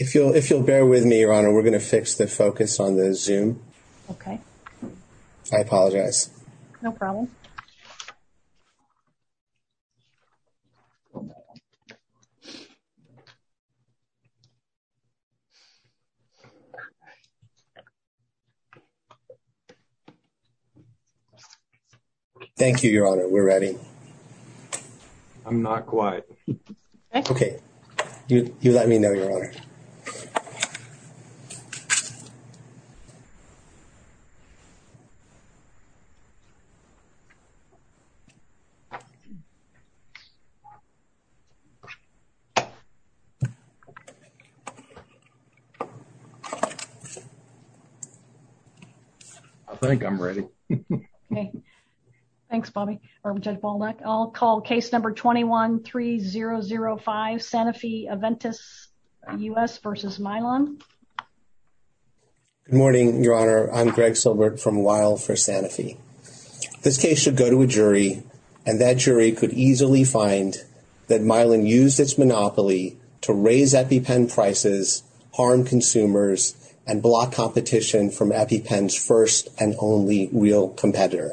If you'll bear with me, Your Honor, we're going to fix the focus on the Zoom. Okay. I apologize. No problem. Thank you, Your Honor, we're ready. I'm not quite. Okay. You let me know, Your Honor. I think I'm ready. Okay. Thanks, Bobby, or Judge Baldock. I'll call case number 21-3005, Sanofi-Aventis U.S. v. Mylan. Good morning, Your Honor. I'm Greg Silbert from Weill v. Sanofi. This case should go to a jury, and that jury could easily find that Mylan used its monopoly to raise EpiPen prices, harm consumers, and block competition from EpiPen's first and only real competitor.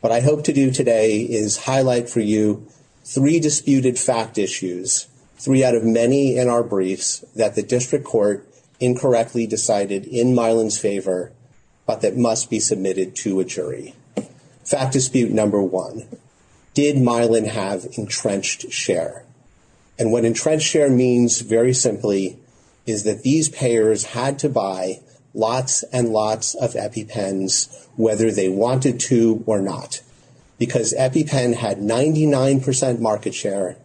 What I hope to do today is highlight for you three disputed fact issues, three out of many in our briefs, that the district court incorrectly decided in Mylan's favor but that must be submitted to a jury. Fact dispute number one, did Mylan have entrenched share? And what entrenched share means, very simply, is that these payers had to buy lots and lots of EpiPens, whether they wanted to or not, because EpiPen had 99% market share.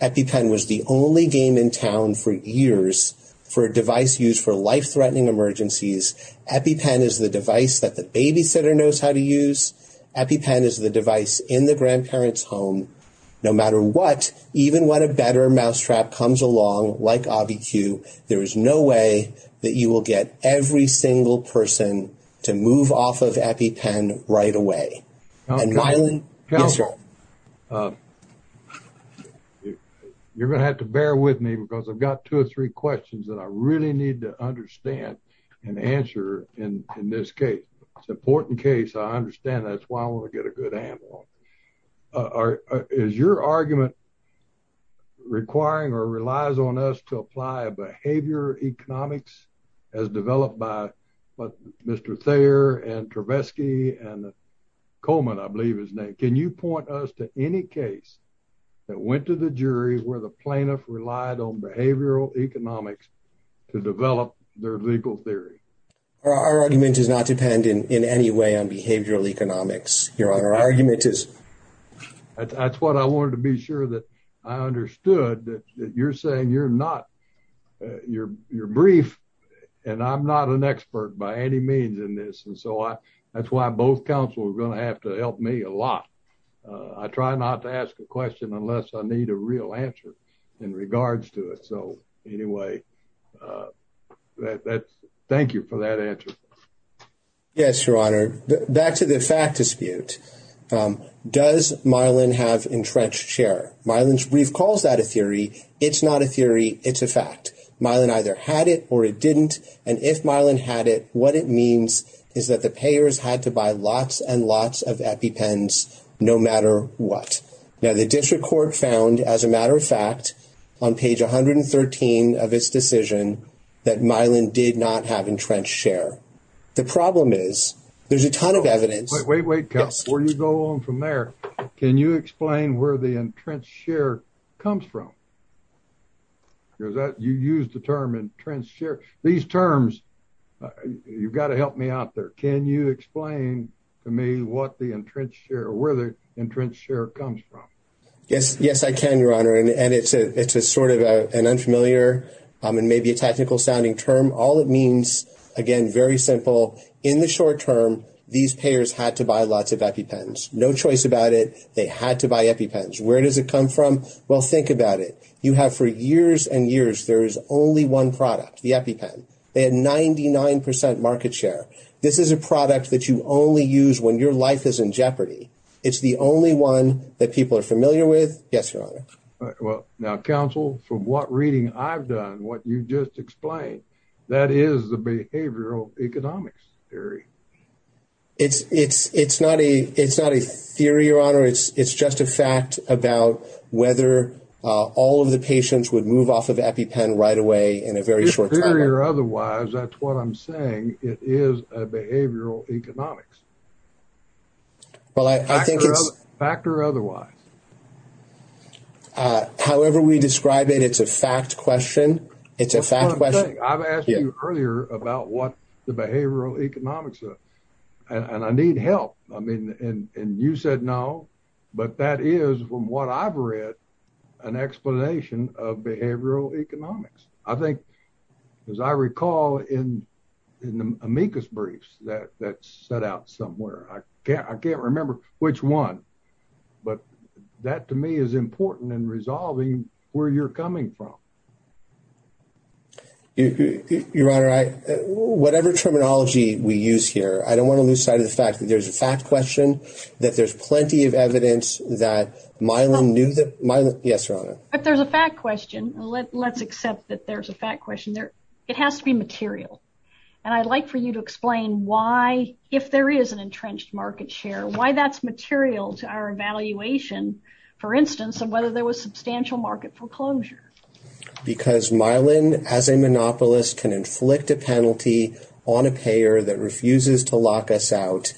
EpiPen was the only game in town for years for a device used for life-threatening emergencies. EpiPen is the device that the babysitter knows how to use. EpiPen is the device in the grandparent's home. No matter what, even when a better mousetrap comes along, like Obby Q, there is no way that you will get every single person to move off of EpiPen right away. You're going to have to bear with me because I've got two or three questions that I really need to understand and answer in this case. It's an important case. I understand that. That's why I want to get a good handle on this. Is your argument requiring or relies on us to apply behavior economics as developed by Mr. Thayer and Travesky and Coleman, I believe his name? Can you point us to any case that went to the jury where the plaintiff relied on behavioral economics to develop their legal theory? Our argument does not depend in any way on behavioral economics, Your Honor. That's what I wanted to be sure that I understood, that you're saying you're not, you're brief and I'm not an expert by any means in this. And so that's why both counsel are going to have to help me a lot. I try not to ask a question unless I need a real answer in regards to it. So anyway, thank you for that answer. Yes, Your Honor. Back to the fact dispute. Does Mylan have entrenched share? Mylan's brief calls that a theory. It's not a theory. It's a fact. Mylan either had it or it didn't. And if Mylan had it, what it means is that the payers had to buy lots and lots of EpiPens no matter what. Now, the district court found, as a matter of fact, on page 113 of its decision that Mylan did not have entrenched share. The problem is there's a ton of evidence. Wait, wait, wait. Where are you going from there? Can you explain where the entrenched share comes from? Is that you use the term entrenched share these terms? You've got to help me out there. Can you explain to me what the entrenched share or where the entrenched share comes from? Yes, I can, Your Honor, and it's sort of an unfamiliar and maybe a technical sounding term. All it means, again, very simple. In the short term, these payers had to buy lots of EpiPens. No choice about it. They had to buy EpiPens. Where does it come from? Well, think about it. You have for years and years there is only one product, the EpiPen. They had 99% market share. This is a product that you only use when your life is in jeopardy. It's the only one that people are familiar with. Yes, Your Honor. Well, now, counsel, from what reading I've done, what you just explained, that is the behavioral economics theory. It's not a theory, Your Honor. It's just a fact about whether all of the patients would move off of EpiPen right away in a very short time. Fact or otherwise, that's what I'm saying. It is a behavioral economics. Well, I think it's… Fact or otherwise. However we describe it, it's a fact question. It's a fact question. That's what I'm saying. I've asked you earlier about what the behavioral economics are, and I need help. I mean, and you said no, but that is, from what I've read, an explanation of behavioral economics. I think, as I recall in the amicus briefs that's set out somewhere, I can't remember which one, but that to me is important in resolving where you're coming from. Your Honor, whatever terminology we use here, I don't want to lose sight of the fact that there's a fact question, that there's plenty of evidence that Mylon knew that… Yes, Your Honor. If there's a fact question, let's accept that there's a fact question. It has to be material, and I'd like for you to explain why, if there is an entrenched market share, why that's material to our evaluation, for instance, of whether there was substantial market foreclosure. Because Mylon, as a monopolist, can inflict a penalty on a payer that refuses to lock us out,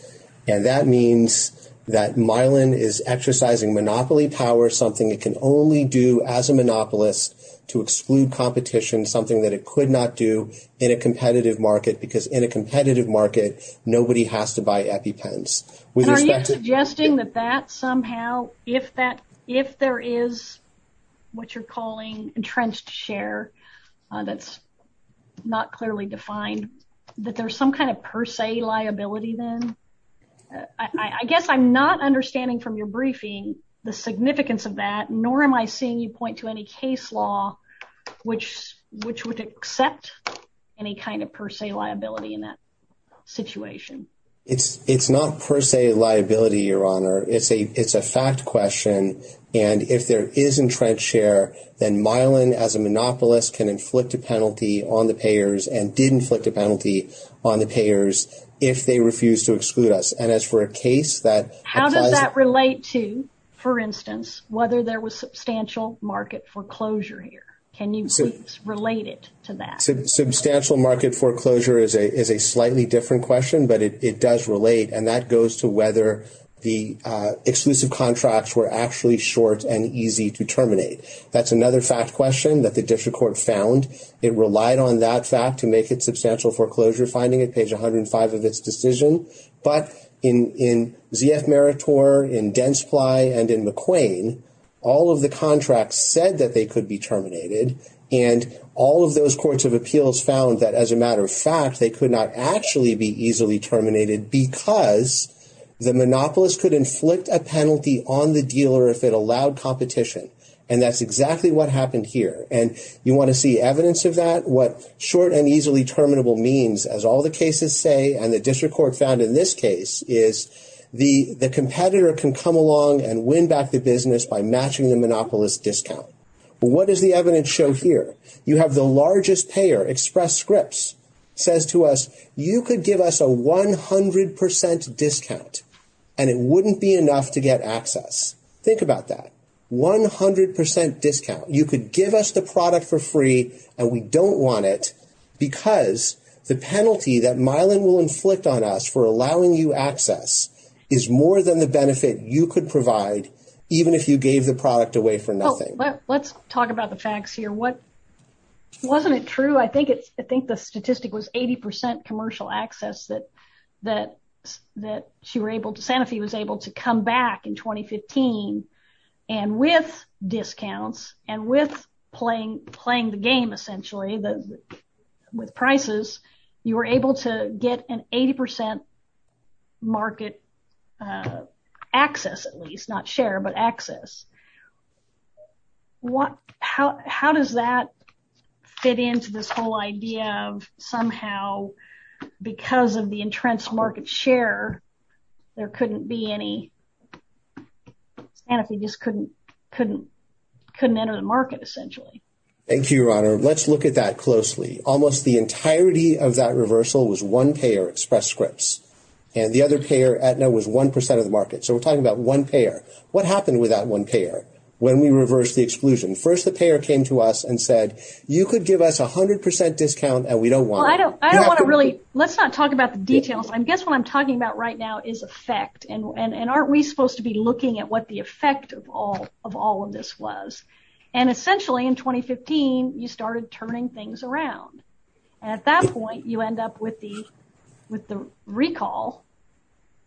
and that means that Mylon is exercising monopoly power, something it can only do as a monopolist to exclude competition, something that it could not do in a competitive market, because in a competitive market, nobody has to buy EpiPens. Are you suggesting that that somehow, if there is what you're calling entrenched share that's not clearly defined, that there's some kind of per se liability then? I guess I'm not understanding from your briefing the significance of that, nor am I seeing you point to any case law which would accept any kind of per se liability in that situation. It's not per se liability, Your Honor. It's a fact question, and if there is entrenched share, then Mylon, as a monopolist, can inflict a penalty on the payers, and did inflict a penalty on the payers, if they refuse to exclude us. And as for a case that applies… How does that relate to, for instance, whether there was substantial market foreclosure here? Can you please relate it to that? Substantial market foreclosure is a slightly different question, but it does relate, and that goes to whether the exclusive contracts were actually short and easy to terminate. That's another fact question that the district court found. It relied on that fact to make its substantial foreclosure finding at page 105 of its decision. But in Z.F. Meritor, in Densply, and in McQuain, all of the contracts said that they could be terminated, and all of those courts of appeals found that, as a matter of fact, they could not actually be easily terminated because the monopolist could inflict a penalty on the dealer if it allowed competition. And that's exactly what happened here. And you want to see evidence of that? What short and easily terminable means, as all the cases say, and the district court found in this case, is the competitor can come along and win back the business by matching the monopolist's discount. What does the evidence show here? You have the largest payer, Express Scripts, says to us, you could give us a 100% discount, and it wouldn't be enough to get access. Think about that. 100% discount. You could give us the product for free, and we don't want it because the penalty that Mylan will inflict on us for allowing you access is more than the benefit you could provide, even if you gave the product away for nothing. Let's talk about the facts here. Wasn't it true? I think the statistic was 80% commercial access that Santa Fe was able to come back in 2015, and with discounts, and with playing the game, essentially, with prices, you were able to get an 80% market access, at least. Not share, but access. How does that fit into this whole idea of somehow, because of the entrenched market share, there couldn't be any, Santa Fe just couldn't enter the market, essentially? Thank you, Your Honor. Let's look at that closely. Almost the entirety of that reversal was one payer, Express Scripts, and the other payer, Aetna, was 1% of the market. So we're talking about one payer. What happened with that one payer when we reversed the exclusion? First, the payer came to us and said, you could give us 100% discount, and we don't want it. Let's not talk about the details. I guess what I'm talking about right now is effect, and aren't we supposed to be looking at what the effect of all of this was? Essentially, in 2015, you started turning things around. At that point, you end up with the recall,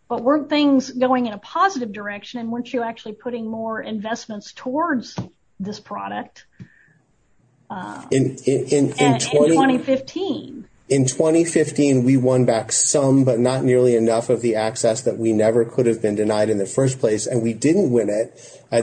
but weren't things going in a positive direction, and weren't you actually putting more investments towards this product in 2015? In 2015, we won back some, but not nearly enough of the access that we never could have been denied in the first place, and we didn't win it. We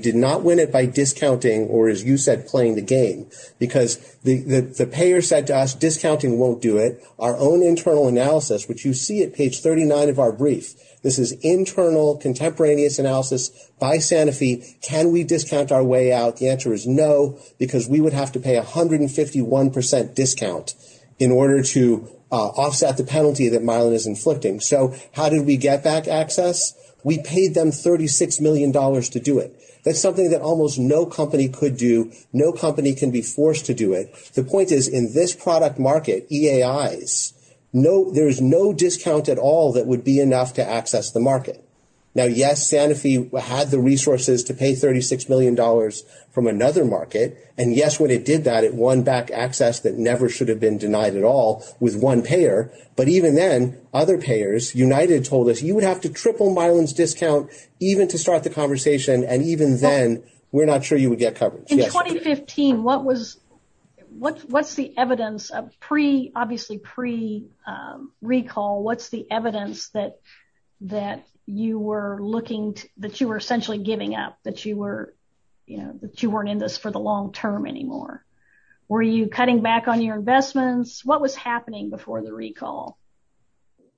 did not win it by discounting or, as you said, playing the game because the payer said to us, discounting won't do it. Our own internal analysis, which you see at page 39 of our brief, this is internal contemporaneous analysis by Sanofi. Can we discount our way out? The answer is no because we would have to pay 151% discount in order to offset the penalty that Mylan is inflicting. So how did we get back access? We paid them $36 million to do it. That's something that almost no company could do. No company can be forced to do it. The point is in this product market, EAIs, there's no discount at all that would be enough to access the market. Now, yes, Sanofi had the resources to pay $36 million from another market, and, yes, when it did that, it won back access that never should have been denied at all with one payer, but even then, other payers, United told us, you would have to triple Mylan's discount even to start the conversation, and even then, we're not sure you would get coverage. In 2015, what's the evidence? Obviously pre-recall, what's the evidence that you were essentially giving up, that you weren't in this for the long term anymore? Were you cutting back on your investments? What was happening before the recall?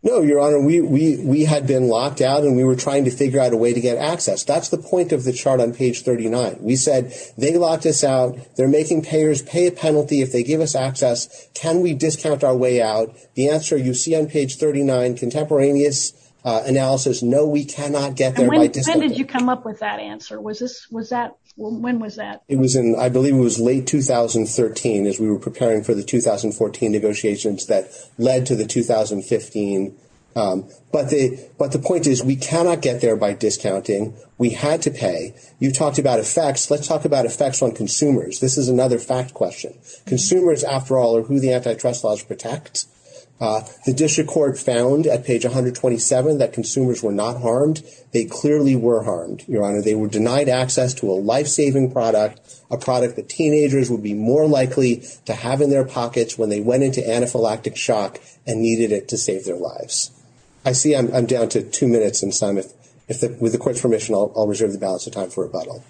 No, Your Honor, we had been locked out, and we were trying to figure out a way to get access. That's the point of the chart on page 39. We said they locked us out. They're making payers pay a penalty if they give us access. Can we discount our way out? The answer you see on page 39, contemporaneous analysis, no, we cannot get there by discount. And when did you come up with that answer? When was that? It was in, I believe it was late 2013 as we were preparing for the 2014 negotiations that led to the 2015. But the point is we cannot get there by discounting. We had to pay. You talked about effects. Let's talk about effects on consumers. This is another fact question. Consumers, after all, are who the antitrust laws protect. The district court found at page 127 that consumers were not harmed. They clearly were harmed, Your Honor. They were denied access to a life-saving product, a product that teenagers would be more likely to have in their pockets when they went into anaphylactic shock and needed it to save their lives. I see I'm down to two minutes, and, Simon, with the court's permission, I'll reserve the balance of time for rebuttal.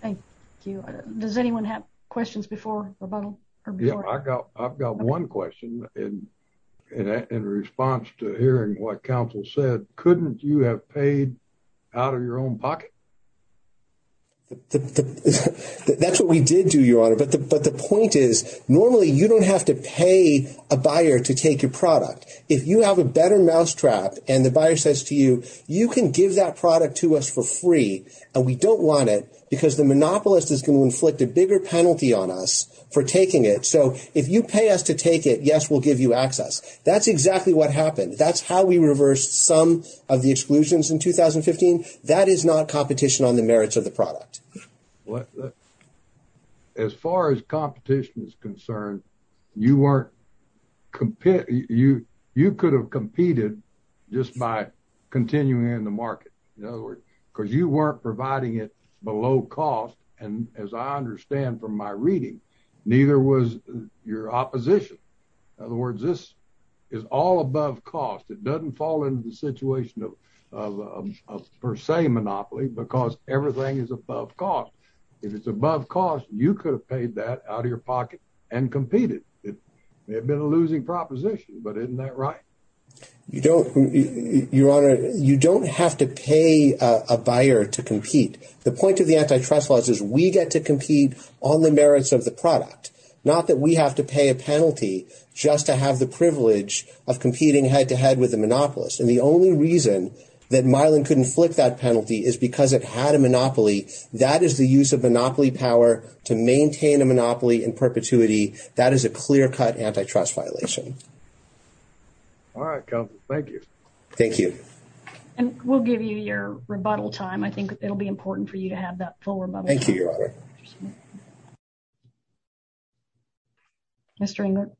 Thank you. Does anyone have questions before rebuttal? I've got one question in response to hearing what counsel said. Couldn't you have paid out of your own pocket? That's what we did do, Your Honor. But the point is normally you don't have to pay a buyer to take your product. If you have a better mousetrap and the buyer says to you, you can give that product to us for free, and we don't want it because the monopolist is going to inflict a bigger penalty on us for taking it. So if you pay us to take it, yes, we'll give you access. That's exactly what happened. That's how we reversed some of the exclusions in 2015. That is not competition on the merits of the product. As far as competition is concerned, you could have competed just by continuing in the market, because you weren't providing it below cost. And as I understand from my reading, neither was your opposition. In other words, this is all above cost. It doesn't fall into the situation of per se monopoly because everything is above cost. If it's above cost, you could have paid that out of your pocket and competed. It may have been a losing proposition, but isn't that right? You don't, Your Honor, you don't have to pay a buyer to compete. The point of the antitrust laws is we get to compete on the merits of the product, not that we have to pay a penalty just to have the privilege of competing head-to-head with the monopolist. And the only reason that Mylan couldn't inflict that penalty is because it had a monopoly. That is the use of monopoly power to maintain a monopoly in perpetuity. That is a clear-cut antitrust violation. All right, Counselor, thank you. Thank you. And we'll give you your rebuttal time. I think it'll be important for you to have that full rebuttal. Thank you, Your Honor. Mr. Englert.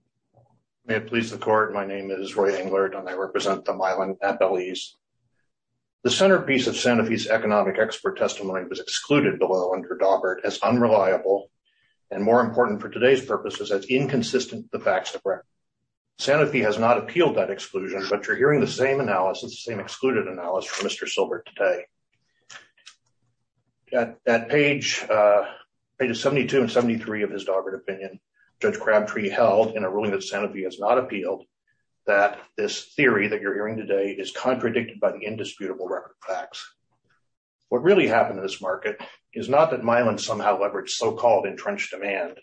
May it please the Court, my name is Roy Englert, and I represent the Mylan appellees. The centerpiece of Sanofi's economic expert testimony was excluded below under Daubert as unreliable and, more important for today's purposes, as inconsistent with the facts of record. Sanofi has not appealed that exclusion, but you're hearing the same analysis, the same excluded analysis from Mr. Silbert today. At page 72 and 73 of his Daubert opinion, Judge Crabtree held, in a ruling that Sanofi has not appealed, that this theory that you're hearing today is contradicted by the indisputable record of facts. What really happened in this market is not that Mylan somehow leveraged so-called entrenched demand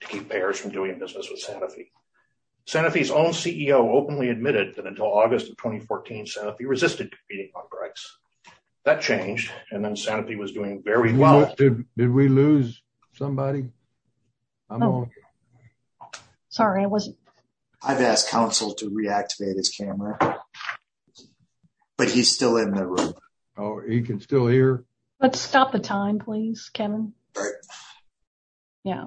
to keep payers from doing business with Sanofi. Sanofi's own CEO openly admitted that until August of 2014, Sanofi resisted competing contracts. That changed, and then Sanofi was doing very well. Did we lose somebody? I'm sorry. I've asked Counsel to reactivate his camera. But he's still in the room. Oh, he can still hear. Let's stop the time, please, Kevin. Yeah.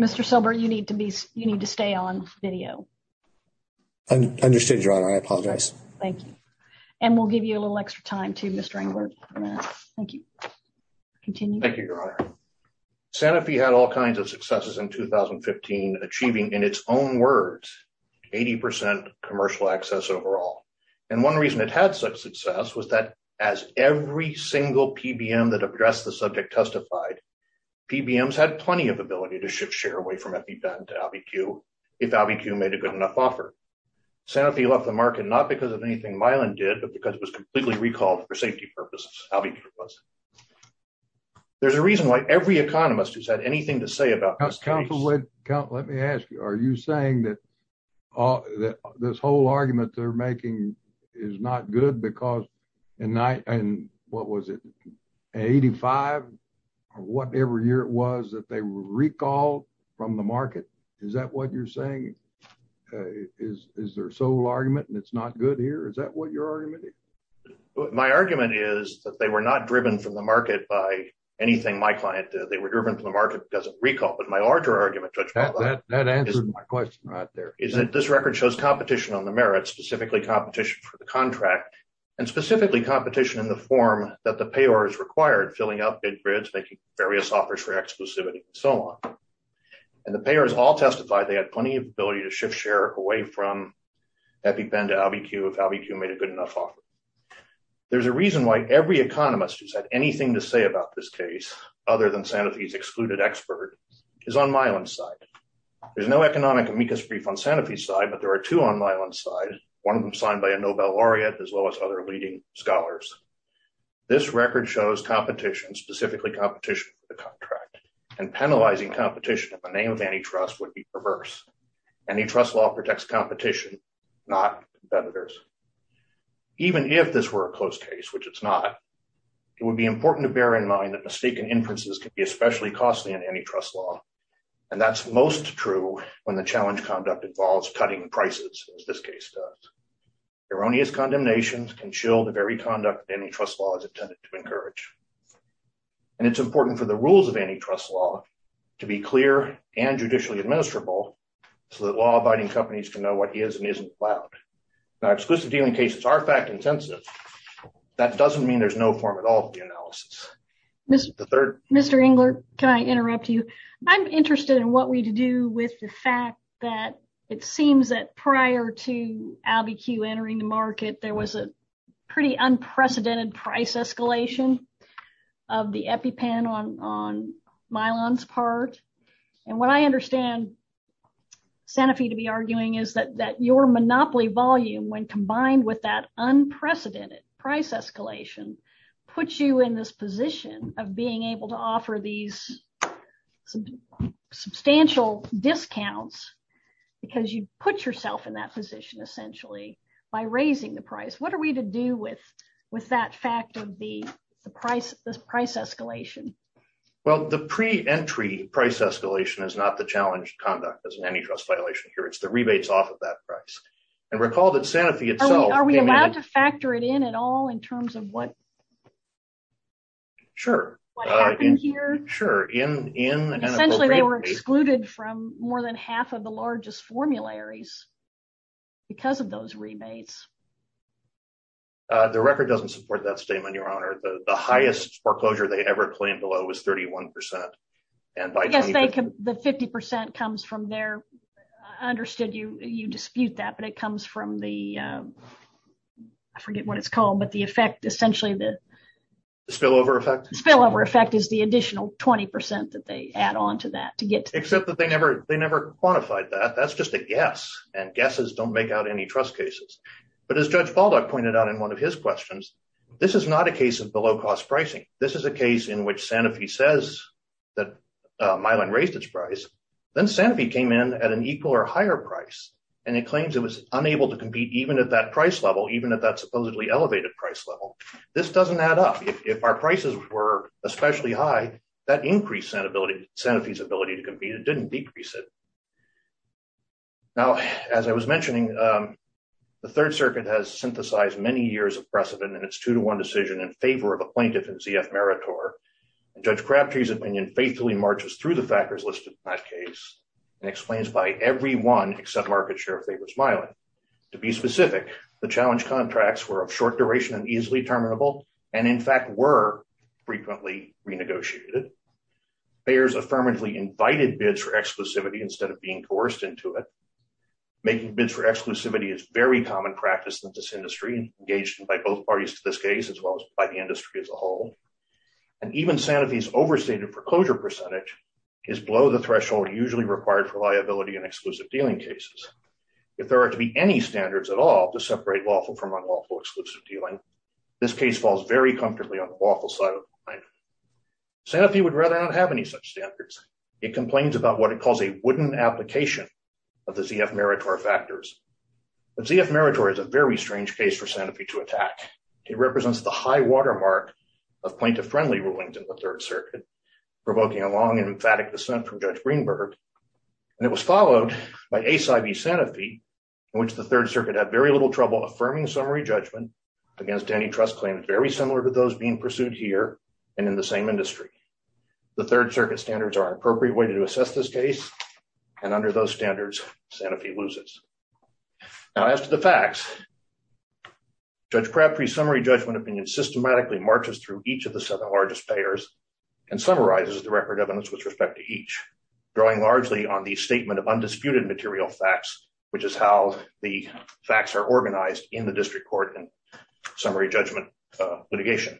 Mr. Silbert, you need to be, you need to stay on video. Understood, Your Honor, I apologize. Thank you. And we'll give you a little extra time too, Mr. Englert. Thank you. Continue. Thank you, Your Honor. Sanofi had all kinds of successes in 2015, achieving, in its own words, 80% commercial access overall. And one reason it had such success was that as every single PBM that addressed the subject testified, PBMs had plenty of ability to shift share away from EpiPen to AlbiQ if AlbiQ made a good enough offer. Sanofi left the market not because of anything Mylan did, but because it was completely recalled for safety purposes, AlbiQ was. There's a reason why every economist who's had anything to say about this case. Let me ask you, are you saying that this whole argument they're making is not good because in, what was it, 85 or whatever year it was that they recalled from the market? Is that what you're saying? Is their sole argument and it's not good here? Is that what your argument is? My argument is that they were not driven from the market by anything my client did. They were driven from the market because of recall. But my larger argument is that this record shows competition on the merits, specifically competition for the contract and specifically competition in the form that the payor is required, filling up big grids, making various offers for exclusivity and so on. And the payors all testified they had plenty of ability to shift share away from EpiPen to AlbiQ if AlbiQ made a good enough offer. There's a reason why every economist who's had anything to say about this case, other than Sanofi's excluded expert, is on Mylan's side. There's no economic amicus brief on Sanofi's side, but there are two on Mylan's side, one of them signed by a Nobel laureate, as well as other leading scholars. This record shows competition, specifically competition for the contract, and penalizing competition in the name of antitrust would be perverse. Antitrust law protects competition, not competitors. Even if this were a close case, which it's not, it would be important to bear in mind that mistaken inferences can be especially costly in antitrust law. And that's most true when the challenge conduct involves cutting prices, as this case does. Erroneous condemnations can shield the very conduct antitrust law is intended to encourage. And it's important for the rules of antitrust law to be clear and judicially administrable so that law-abiding companies can know what is and isn't allowed. Now, exclusive dealing cases are fact-intensive. That doesn't mean there's no form at all of the analysis. Mr. Engler, can I interrupt you. I'm interested in what we do with the fact that it seems that prior to Abiquiu entering the market, there was a pretty unprecedented price escalation of the EpiPen on Mylan's part. And what I understand Sanofi to be arguing is that that your monopoly volume when combined with that unprecedented price escalation puts you in this position of being able to offer these substantial discounts, because you put yourself in that position The price escalation is not the challenge conduct as an antitrust violation here, it's the rebates off of that price. And recall that Sanofi itself Are we allowed to factor it in at all in terms of what happened here? Sure. Essentially they were excluded from more than half of the largest formularies because of those rebates. The record doesn't support that statement, Your Honor. The highest foreclosure they ever claimed below was 31%. Yes, the 50% comes from there. I understood you dispute that, but it comes from the, I forget what it's called, but the effect essentially the Spillover effect? Spillover effect is the additional 20% that they add on to that to get Except that they never quantified that. That's just a guess and guesses don't make out any trust cases. But as Judge Baldock pointed out in one of his questions. This is not a case of below cost pricing. This is a case in which Sanofi says that Mylan raised its price. Then Sanofi came in at an equal or higher price and it claims it was unable to compete, even at that price level, even at that supposedly elevated price level. This doesn't add up. If our prices were especially high, that increased Sanofi's ability to compete. It didn't decrease it. Now, as I was mentioning, the Third Circuit has synthesized many years of precedent and it's two to one decision in favor of a plaintiff in Z.F. Meritor. Judge Crabtree's opinion faithfully marches through the factors listed in that case and explains by every one except market share of favors Mylan. To be specific, the challenge contracts were of short duration and easily terminable and in fact were frequently renegotiated. There's affirmatively invited bids for exclusivity instead of being coerced into it. Making bids for exclusivity is very common practice in this industry and engaged by both parties to this case as well as by the industry as a whole. And even Sanofi's overstated foreclosure percentage is below the threshold usually required for liability and exclusive dealing cases. If there are to be any standards at all to separate lawful from unlawful exclusive dealing, this case falls very comfortably on the lawful side of the line. Sanofi would rather not have any such standards. It complains about what it calls a wooden application of the Z.F. Meritor factors. The Z.F. Meritor is a very strange case for Sanofi to attack. It represents the high watermark of plaintiff friendly rulings in the Third Circuit, provoking a long and emphatic dissent from Judge Greenberg. And it was followed by Ace I.B. Sanofi, in which the Third Circuit had very little trouble affirming summary judgment against any trust claims very similar to those being pursued here and in the same industry. The Third Circuit standards are an appropriate way to assess this case. And under those standards, Sanofi loses. Now, as to the facts, Judge Crabtree's summary judgment opinion systematically marches through each of the seven largest payers and summarizes the record evidence with respect to each, drawing largely on the statement of undisputed material facts, which is how the facts are organized in the district court and summary judgment litigation.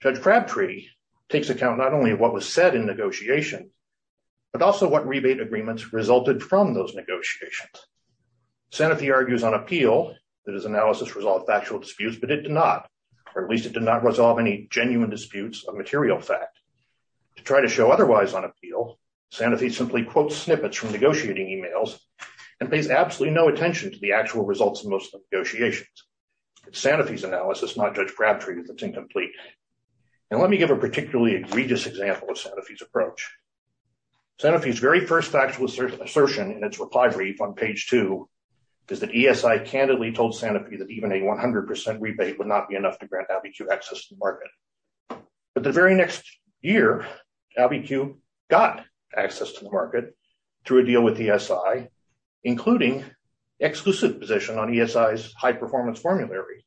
Judge Crabtree takes account not only of what was said in negotiation, but also what rebate agreements resulted from those negotiations. Sanofi argues on appeal that his analysis resolved factual disputes, but it did not, or at least it did not resolve any genuine disputes of material fact. To try to show otherwise on appeal, Sanofi simply quotes snippets from negotiating emails and pays absolutely no attention to the actual results of most of the negotiations. It's Sanofi's analysis, not Judge Crabtree, that's incomplete. And let me give a particularly egregious example of Sanofi's approach. Sanofi's very first factual assertion in its reply brief on page two is that ESI candidly told Sanofi that even a 100% rebate would not be enough to grant ABIQ access to the market. But the very next year, ABIQ got access to the market through a deal with ESI, including exclusive position on ESI's high performance formulary.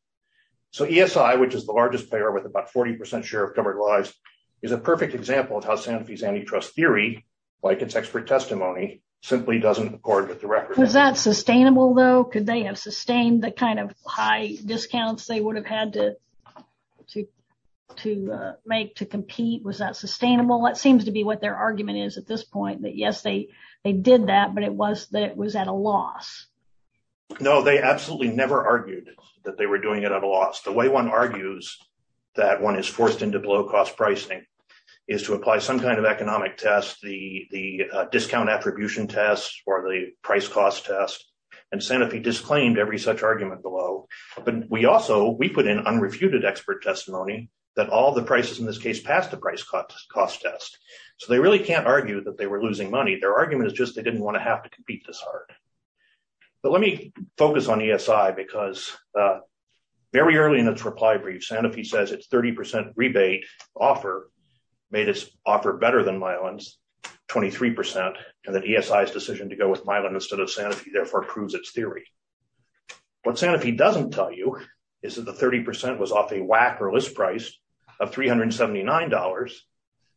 So ESI, which is the largest player with about 40% share of covered lives, is a perfect example of how Sanofi's antitrust theory, like its expert testimony, simply doesn't accord with the record. Was that sustainable, though? Could they have sustained the kind of high discounts they would have had to make to compete? Was that sustainable? It seems to be what their argument is at this point, that yes, they did that, but it was that it was at a loss. No, they absolutely never argued that they were doing it at a loss. The way one argues that one is forced into below cost pricing is to apply some kind of economic test, the discount attribution test or the price cost test. And Sanofi disclaimed every such argument below. But we also we put in unrefuted expert testimony that all the prices in this case passed the price cost test. So they really can't argue that they were losing money. Their argument is just they didn't want to have to compete this hard. But let me focus on ESI because very early in its reply brief, Sanofi says its 30% rebate offer made its offer better than Milan's 23% and that ESI's decision to go with Milan instead of Sanofi therefore proves its theory. What Sanofi doesn't tell you is that the 30% was off a WAC or list price of $379,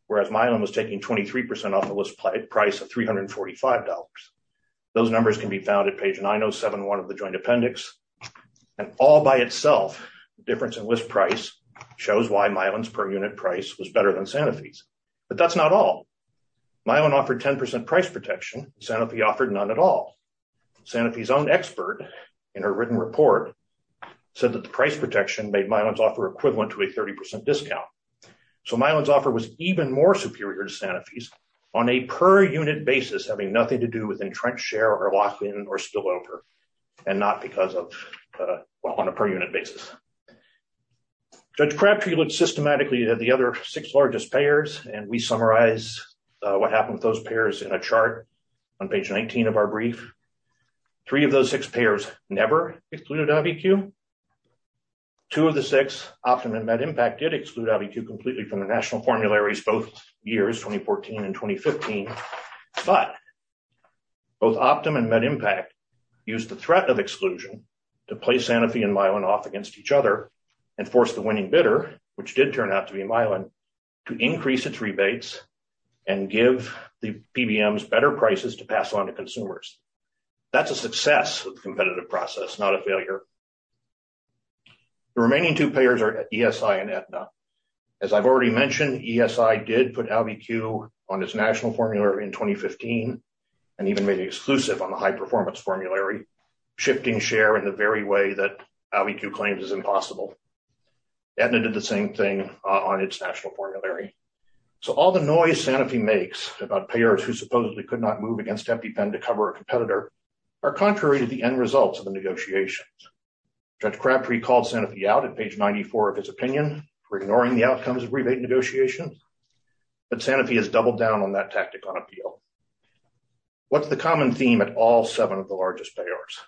whereas Milan was taking 23% off the list price of $345. Those numbers can be found at page 9071 of the joint appendix. And all by itself, the difference in list price shows why Milan's per unit price was better than Sanofi's. But that's not all. Milan offered 10% price protection. Sanofi offered none at all. Sanofi's own expert in her written report said that the price protection made Milan's offer equivalent to a 30% discount. So Milan's offer was even more superior to Sanofi's on a per unit basis, having nothing to do with entrenched share or lock in or spill over and not because of, well, on a per unit basis. Judge Crabtree looked systematically at the other six largest payers and we summarize what happened with those payers in a chart on page 19 of our brief. Three of those six payers never excluded IBQ. Two of the six, Optum and Medimpact, did exclude IBQ completely from the national formularies both years 2014 and 2015. But both Optum and Medimpact used the threat of exclusion to play Sanofi and Milan off against each other and force the winning bidder, which did turn out to be Milan, to increase its rebates and give the PBMs better prices to pass on to consumers. That's a success of the competitive process, not a failure. The remaining two payers are ESI and Aetna. As I've already mentioned, ESI did put IBQ on its national formula in 2015 and even made it exclusive on the high performance formulary, shifting share in the very way that IBQ claims is impossible. Aetna did the same thing on its national formulary. So all the noise Sanofi makes about payers who supposedly could not move against EpiPen to cover a competitor are contrary to the end results of the negotiations. Judge Crabtree called Sanofi out at page 94 of his opinion for ignoring the outcomes of rebate negotiations, but Sanofi has doubled down on that tactic on appeal. What's the common theme at all seven of the largest payers?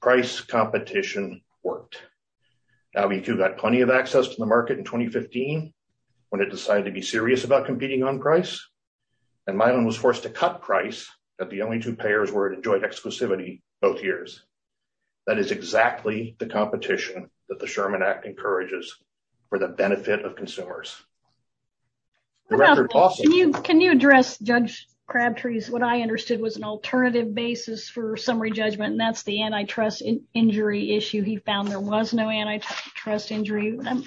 Price competition worked. IBQ got plenty of access to the market in 2015 when it decided to be serious about competing on price, and Milan was forced to cut price that the only two payers were to enjoy exclusivity both years. That is exactly the competition that the Sherman Act encourages for the benefit of consumers. Can you address Judge Crabtree's what I understood was an alternative basis for summary judgment and that's the antitrust injury issue he found there was no antitrust injury. I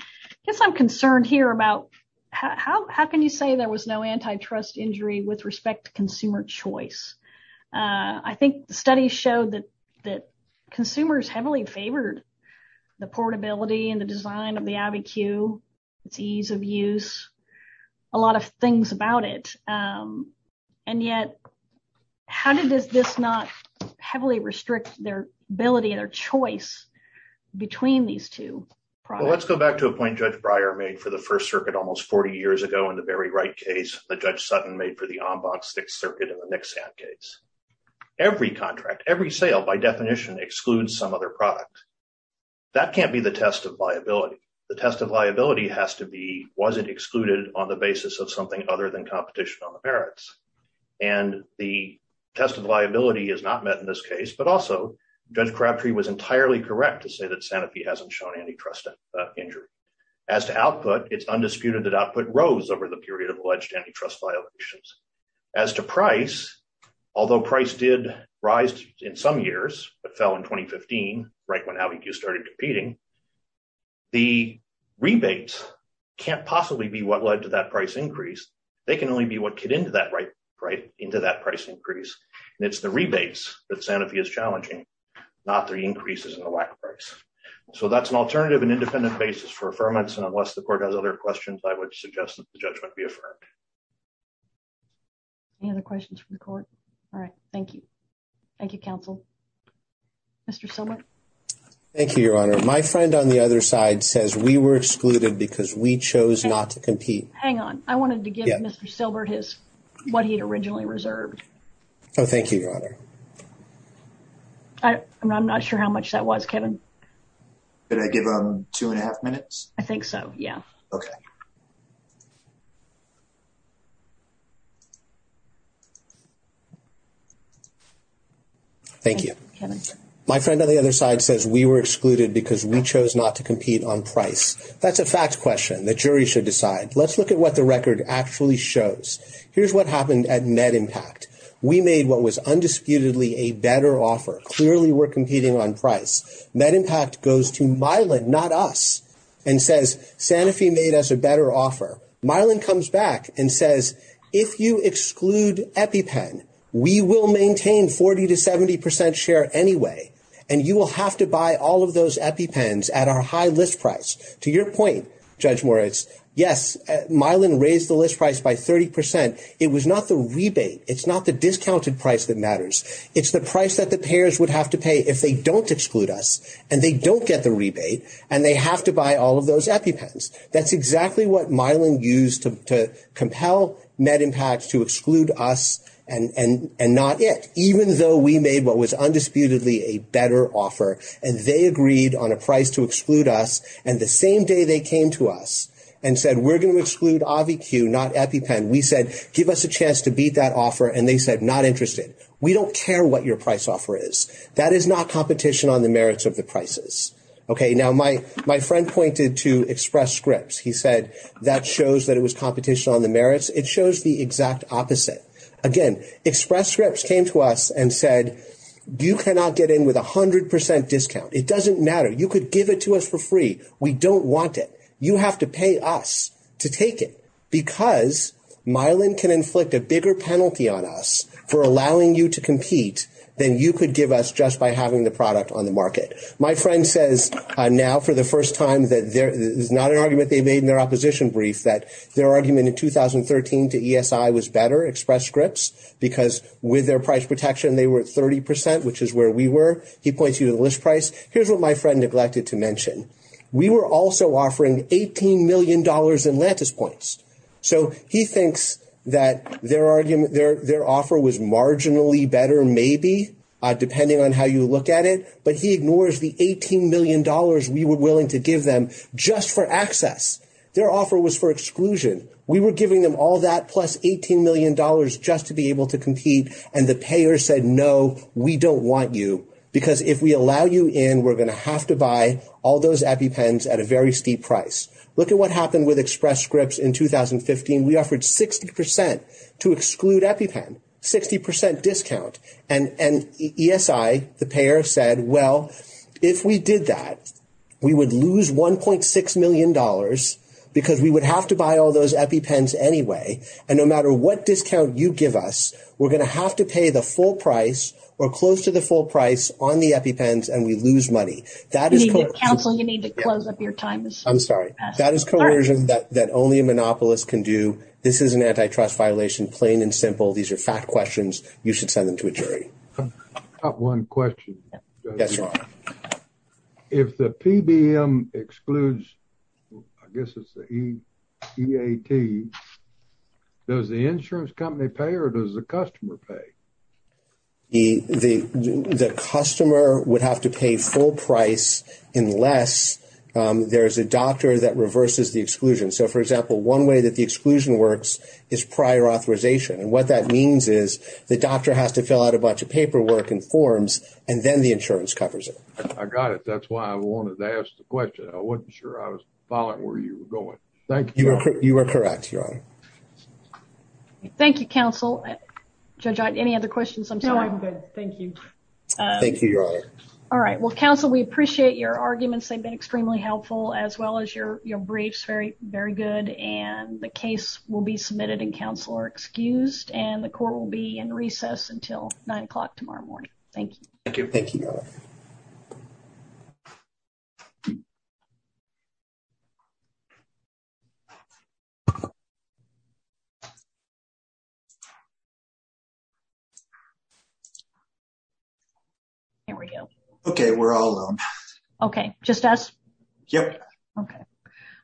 guess I'm concerned here about how can you say there was no antitrust injury with respect to consumer choice. I think the study showed that that consumers heavily favored the portability and the design of the IBQ, its ease of use, a lot of things about it. And yet, how did this not heavily restrict their ability and their choice between these two. Well, let's go back to a point Judge Breyer made for the First Circuit almost 40 years ago in the very right case that Judge Sutton made for the Ombuds Sixth Circuit in the Nixad case. Every contract, every sale by definition excludes some other product. That can't be the test of liability. The test of liability has to be, was it excluded on the basis of something other than competition on the merits. And the test of liability is not met in this case but also Judge Crabtree was entirely correct to say that Sanofi hasn't shown antitrust injury. As to output, it's undisputed that output rose over the period of alleged antitrust violations. As to price, although price did rise in some years but fell in 2015 right when how he started competing. The rebates can't possibly be what led to that price increase. They can only be what get into that right right into that price increase. And it's the rebates that Sanofi is challenging, not the increases in the whack price. So that's an alternative and independent basis for affirmance and unless the court has other questions I would suggest that the judgment be affirmed. Any other questions from the court. All right. Thank you. Thank you, counsel. Mr. Silbert. Thank you, Your Honor. My friend on the other side says we were excluded because we chose not to compete. Hang on. I wanted to give Mr. Silbert his, what he had originally reserved. Oh, thank you, Your Honor. I'm not sure how much that was, Kevin. Did I give him two and a half minutes? I think so, yeah. Okay. Thank you. Kevin. My friend on the other side says we were excluded because we chose not to compete on price. That's a fact question. The jury should decide. Let's look at what the record actually shows. Here's what happened at MedImpact. We made what was undisputedly a better offer. Clearly we're competing on price. Mylan comes back and says, if you exclude EpiPen, we will maintain 40 to 70 percent share anyway, and you will have to buy all of those EpiPens at our high list price. To your point, Judge Moritz, yes, Mylan raised the list price by 30 percent. It was not the rebate. It's not the discounted price that matters. It's the price that the payers would have to pay if they don't exclude us, and they don't get the rebate, and they have to buy all of those EpiPens. That's exactly what Mylan used to compel MedImpact to exclude us and not it. Even though we made what was undisputedly a better offer, and they agreed on a price to exclude us, and the same day they came to us and said we're going to exclude AviQ, not EpiPen, we said give us a chance to beat that offer, and they said not interested. We don't care what your price offer is. That is not competition on the merits of the prices. Okay, now my friend pointed to Express Scripts. He said that shows that it was competition on the merits. It shows the exact opposite. Again, Express Scripts came to us and said you cannot get in with a 100 percent discount. It doesn't matter. You could give it to us for free. We don't want it. You have to pay us to take it because Mylan can inflict a bigger penalty on us for allowing you to compete than you could give us just by having the product on the market. My friend says now for the first time that this is not an argument they made in their opposition brief, that their argument in 2013 to ESI was better, Express Scripts, because with their price protection they were at 30 percent, which is where we were. He points you to the list price. Here's what my friend neglected to mention. We were also offering $18 million in Lantis points. So he thinks that their offer was marginally better maybe, depending on how you look at it, but he ignores the $18 million we were willing to give them just for access. Their offer was for exclusion. We were giving them all that plus $18 million just to be able to compete, and the payer said no, we don't want you because if we allow you in, we're going to have to buy all those EpiPens at a very steep price. Look at what happened with Express Scripts in 2015. We offered 60 percent to exclude EpiPen, 60 percent discount, and ESI, the payer, said, well, if we did that, we would lose $1.6 million because we would have to buy all those EpiPens anyway, and no matter what discount you give us, we're going to have to pay the full price or close to the full price on the EpiPens and we lose money. Counsel, you need to close up your time. I'm sorry. That is coercion that only a monopolist can do. This is an antitrust violation, plain and simple. These are fact questions. You should send them to a jury. I have one question. Yes, sir. If the PBM excludes, I guess it's the EAT, does the insurance company pay or does the customer pay? The customer would have to pay full price unless there is a doctor that reverses the exclusion. So, for example, one way that the exclusion works is prior authorization, and what that means is the doctor has to fill out a bunch of paperwork and forms and then the insurance covers it. I got it. That's why I wanted to ask the question. I wasn't sure I was following where you were going. Thank you. You are correct, Your Honor. Thank you, Counsel. Judge Ott, any other questions? No, I'm good. Thank you. Thank you, Your Honor. All right. Well, Counsel, we appreciate your arguments. They've been extremely helpful as well as your briefs, very good, and the case will be submitted and Counsel are excused, and the court will be in recess until 9 o'clock tomorrow morning. Thank you. Thank you. Thank you, Your Honor. Here we go. Okay, we're all alone. Okay, just us? Yep. Okay.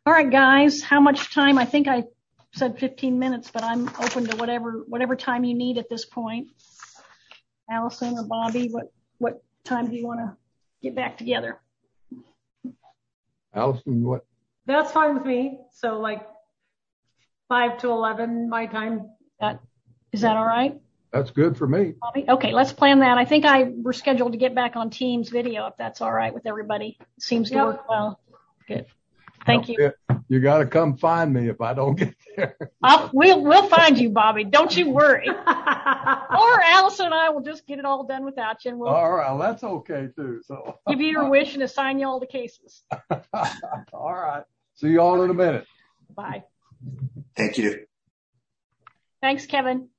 All right, guys, how much time? I think I said 15 minutes, but I'm open to whatever time you need at this point. Allison or Bobby, what time do you want to get back together? Allison, what? That's fine with me. So like 5 to 11, my time. Is that all right? That's good for me. Okay, let's plan that. I think we're scheduled to get back on team's video if that's all right with everybody. It seems to work well. Good. Thank you. You got to come find me if I don't get there. We'll find you, Bobby. Don't you worry. Or Allison and I will just get it all done without you. All right. That's okay, too. Give you your wish and assign you all the cases. All right. See you all in a minute. Bye. Thank you. Thanks, Kevin.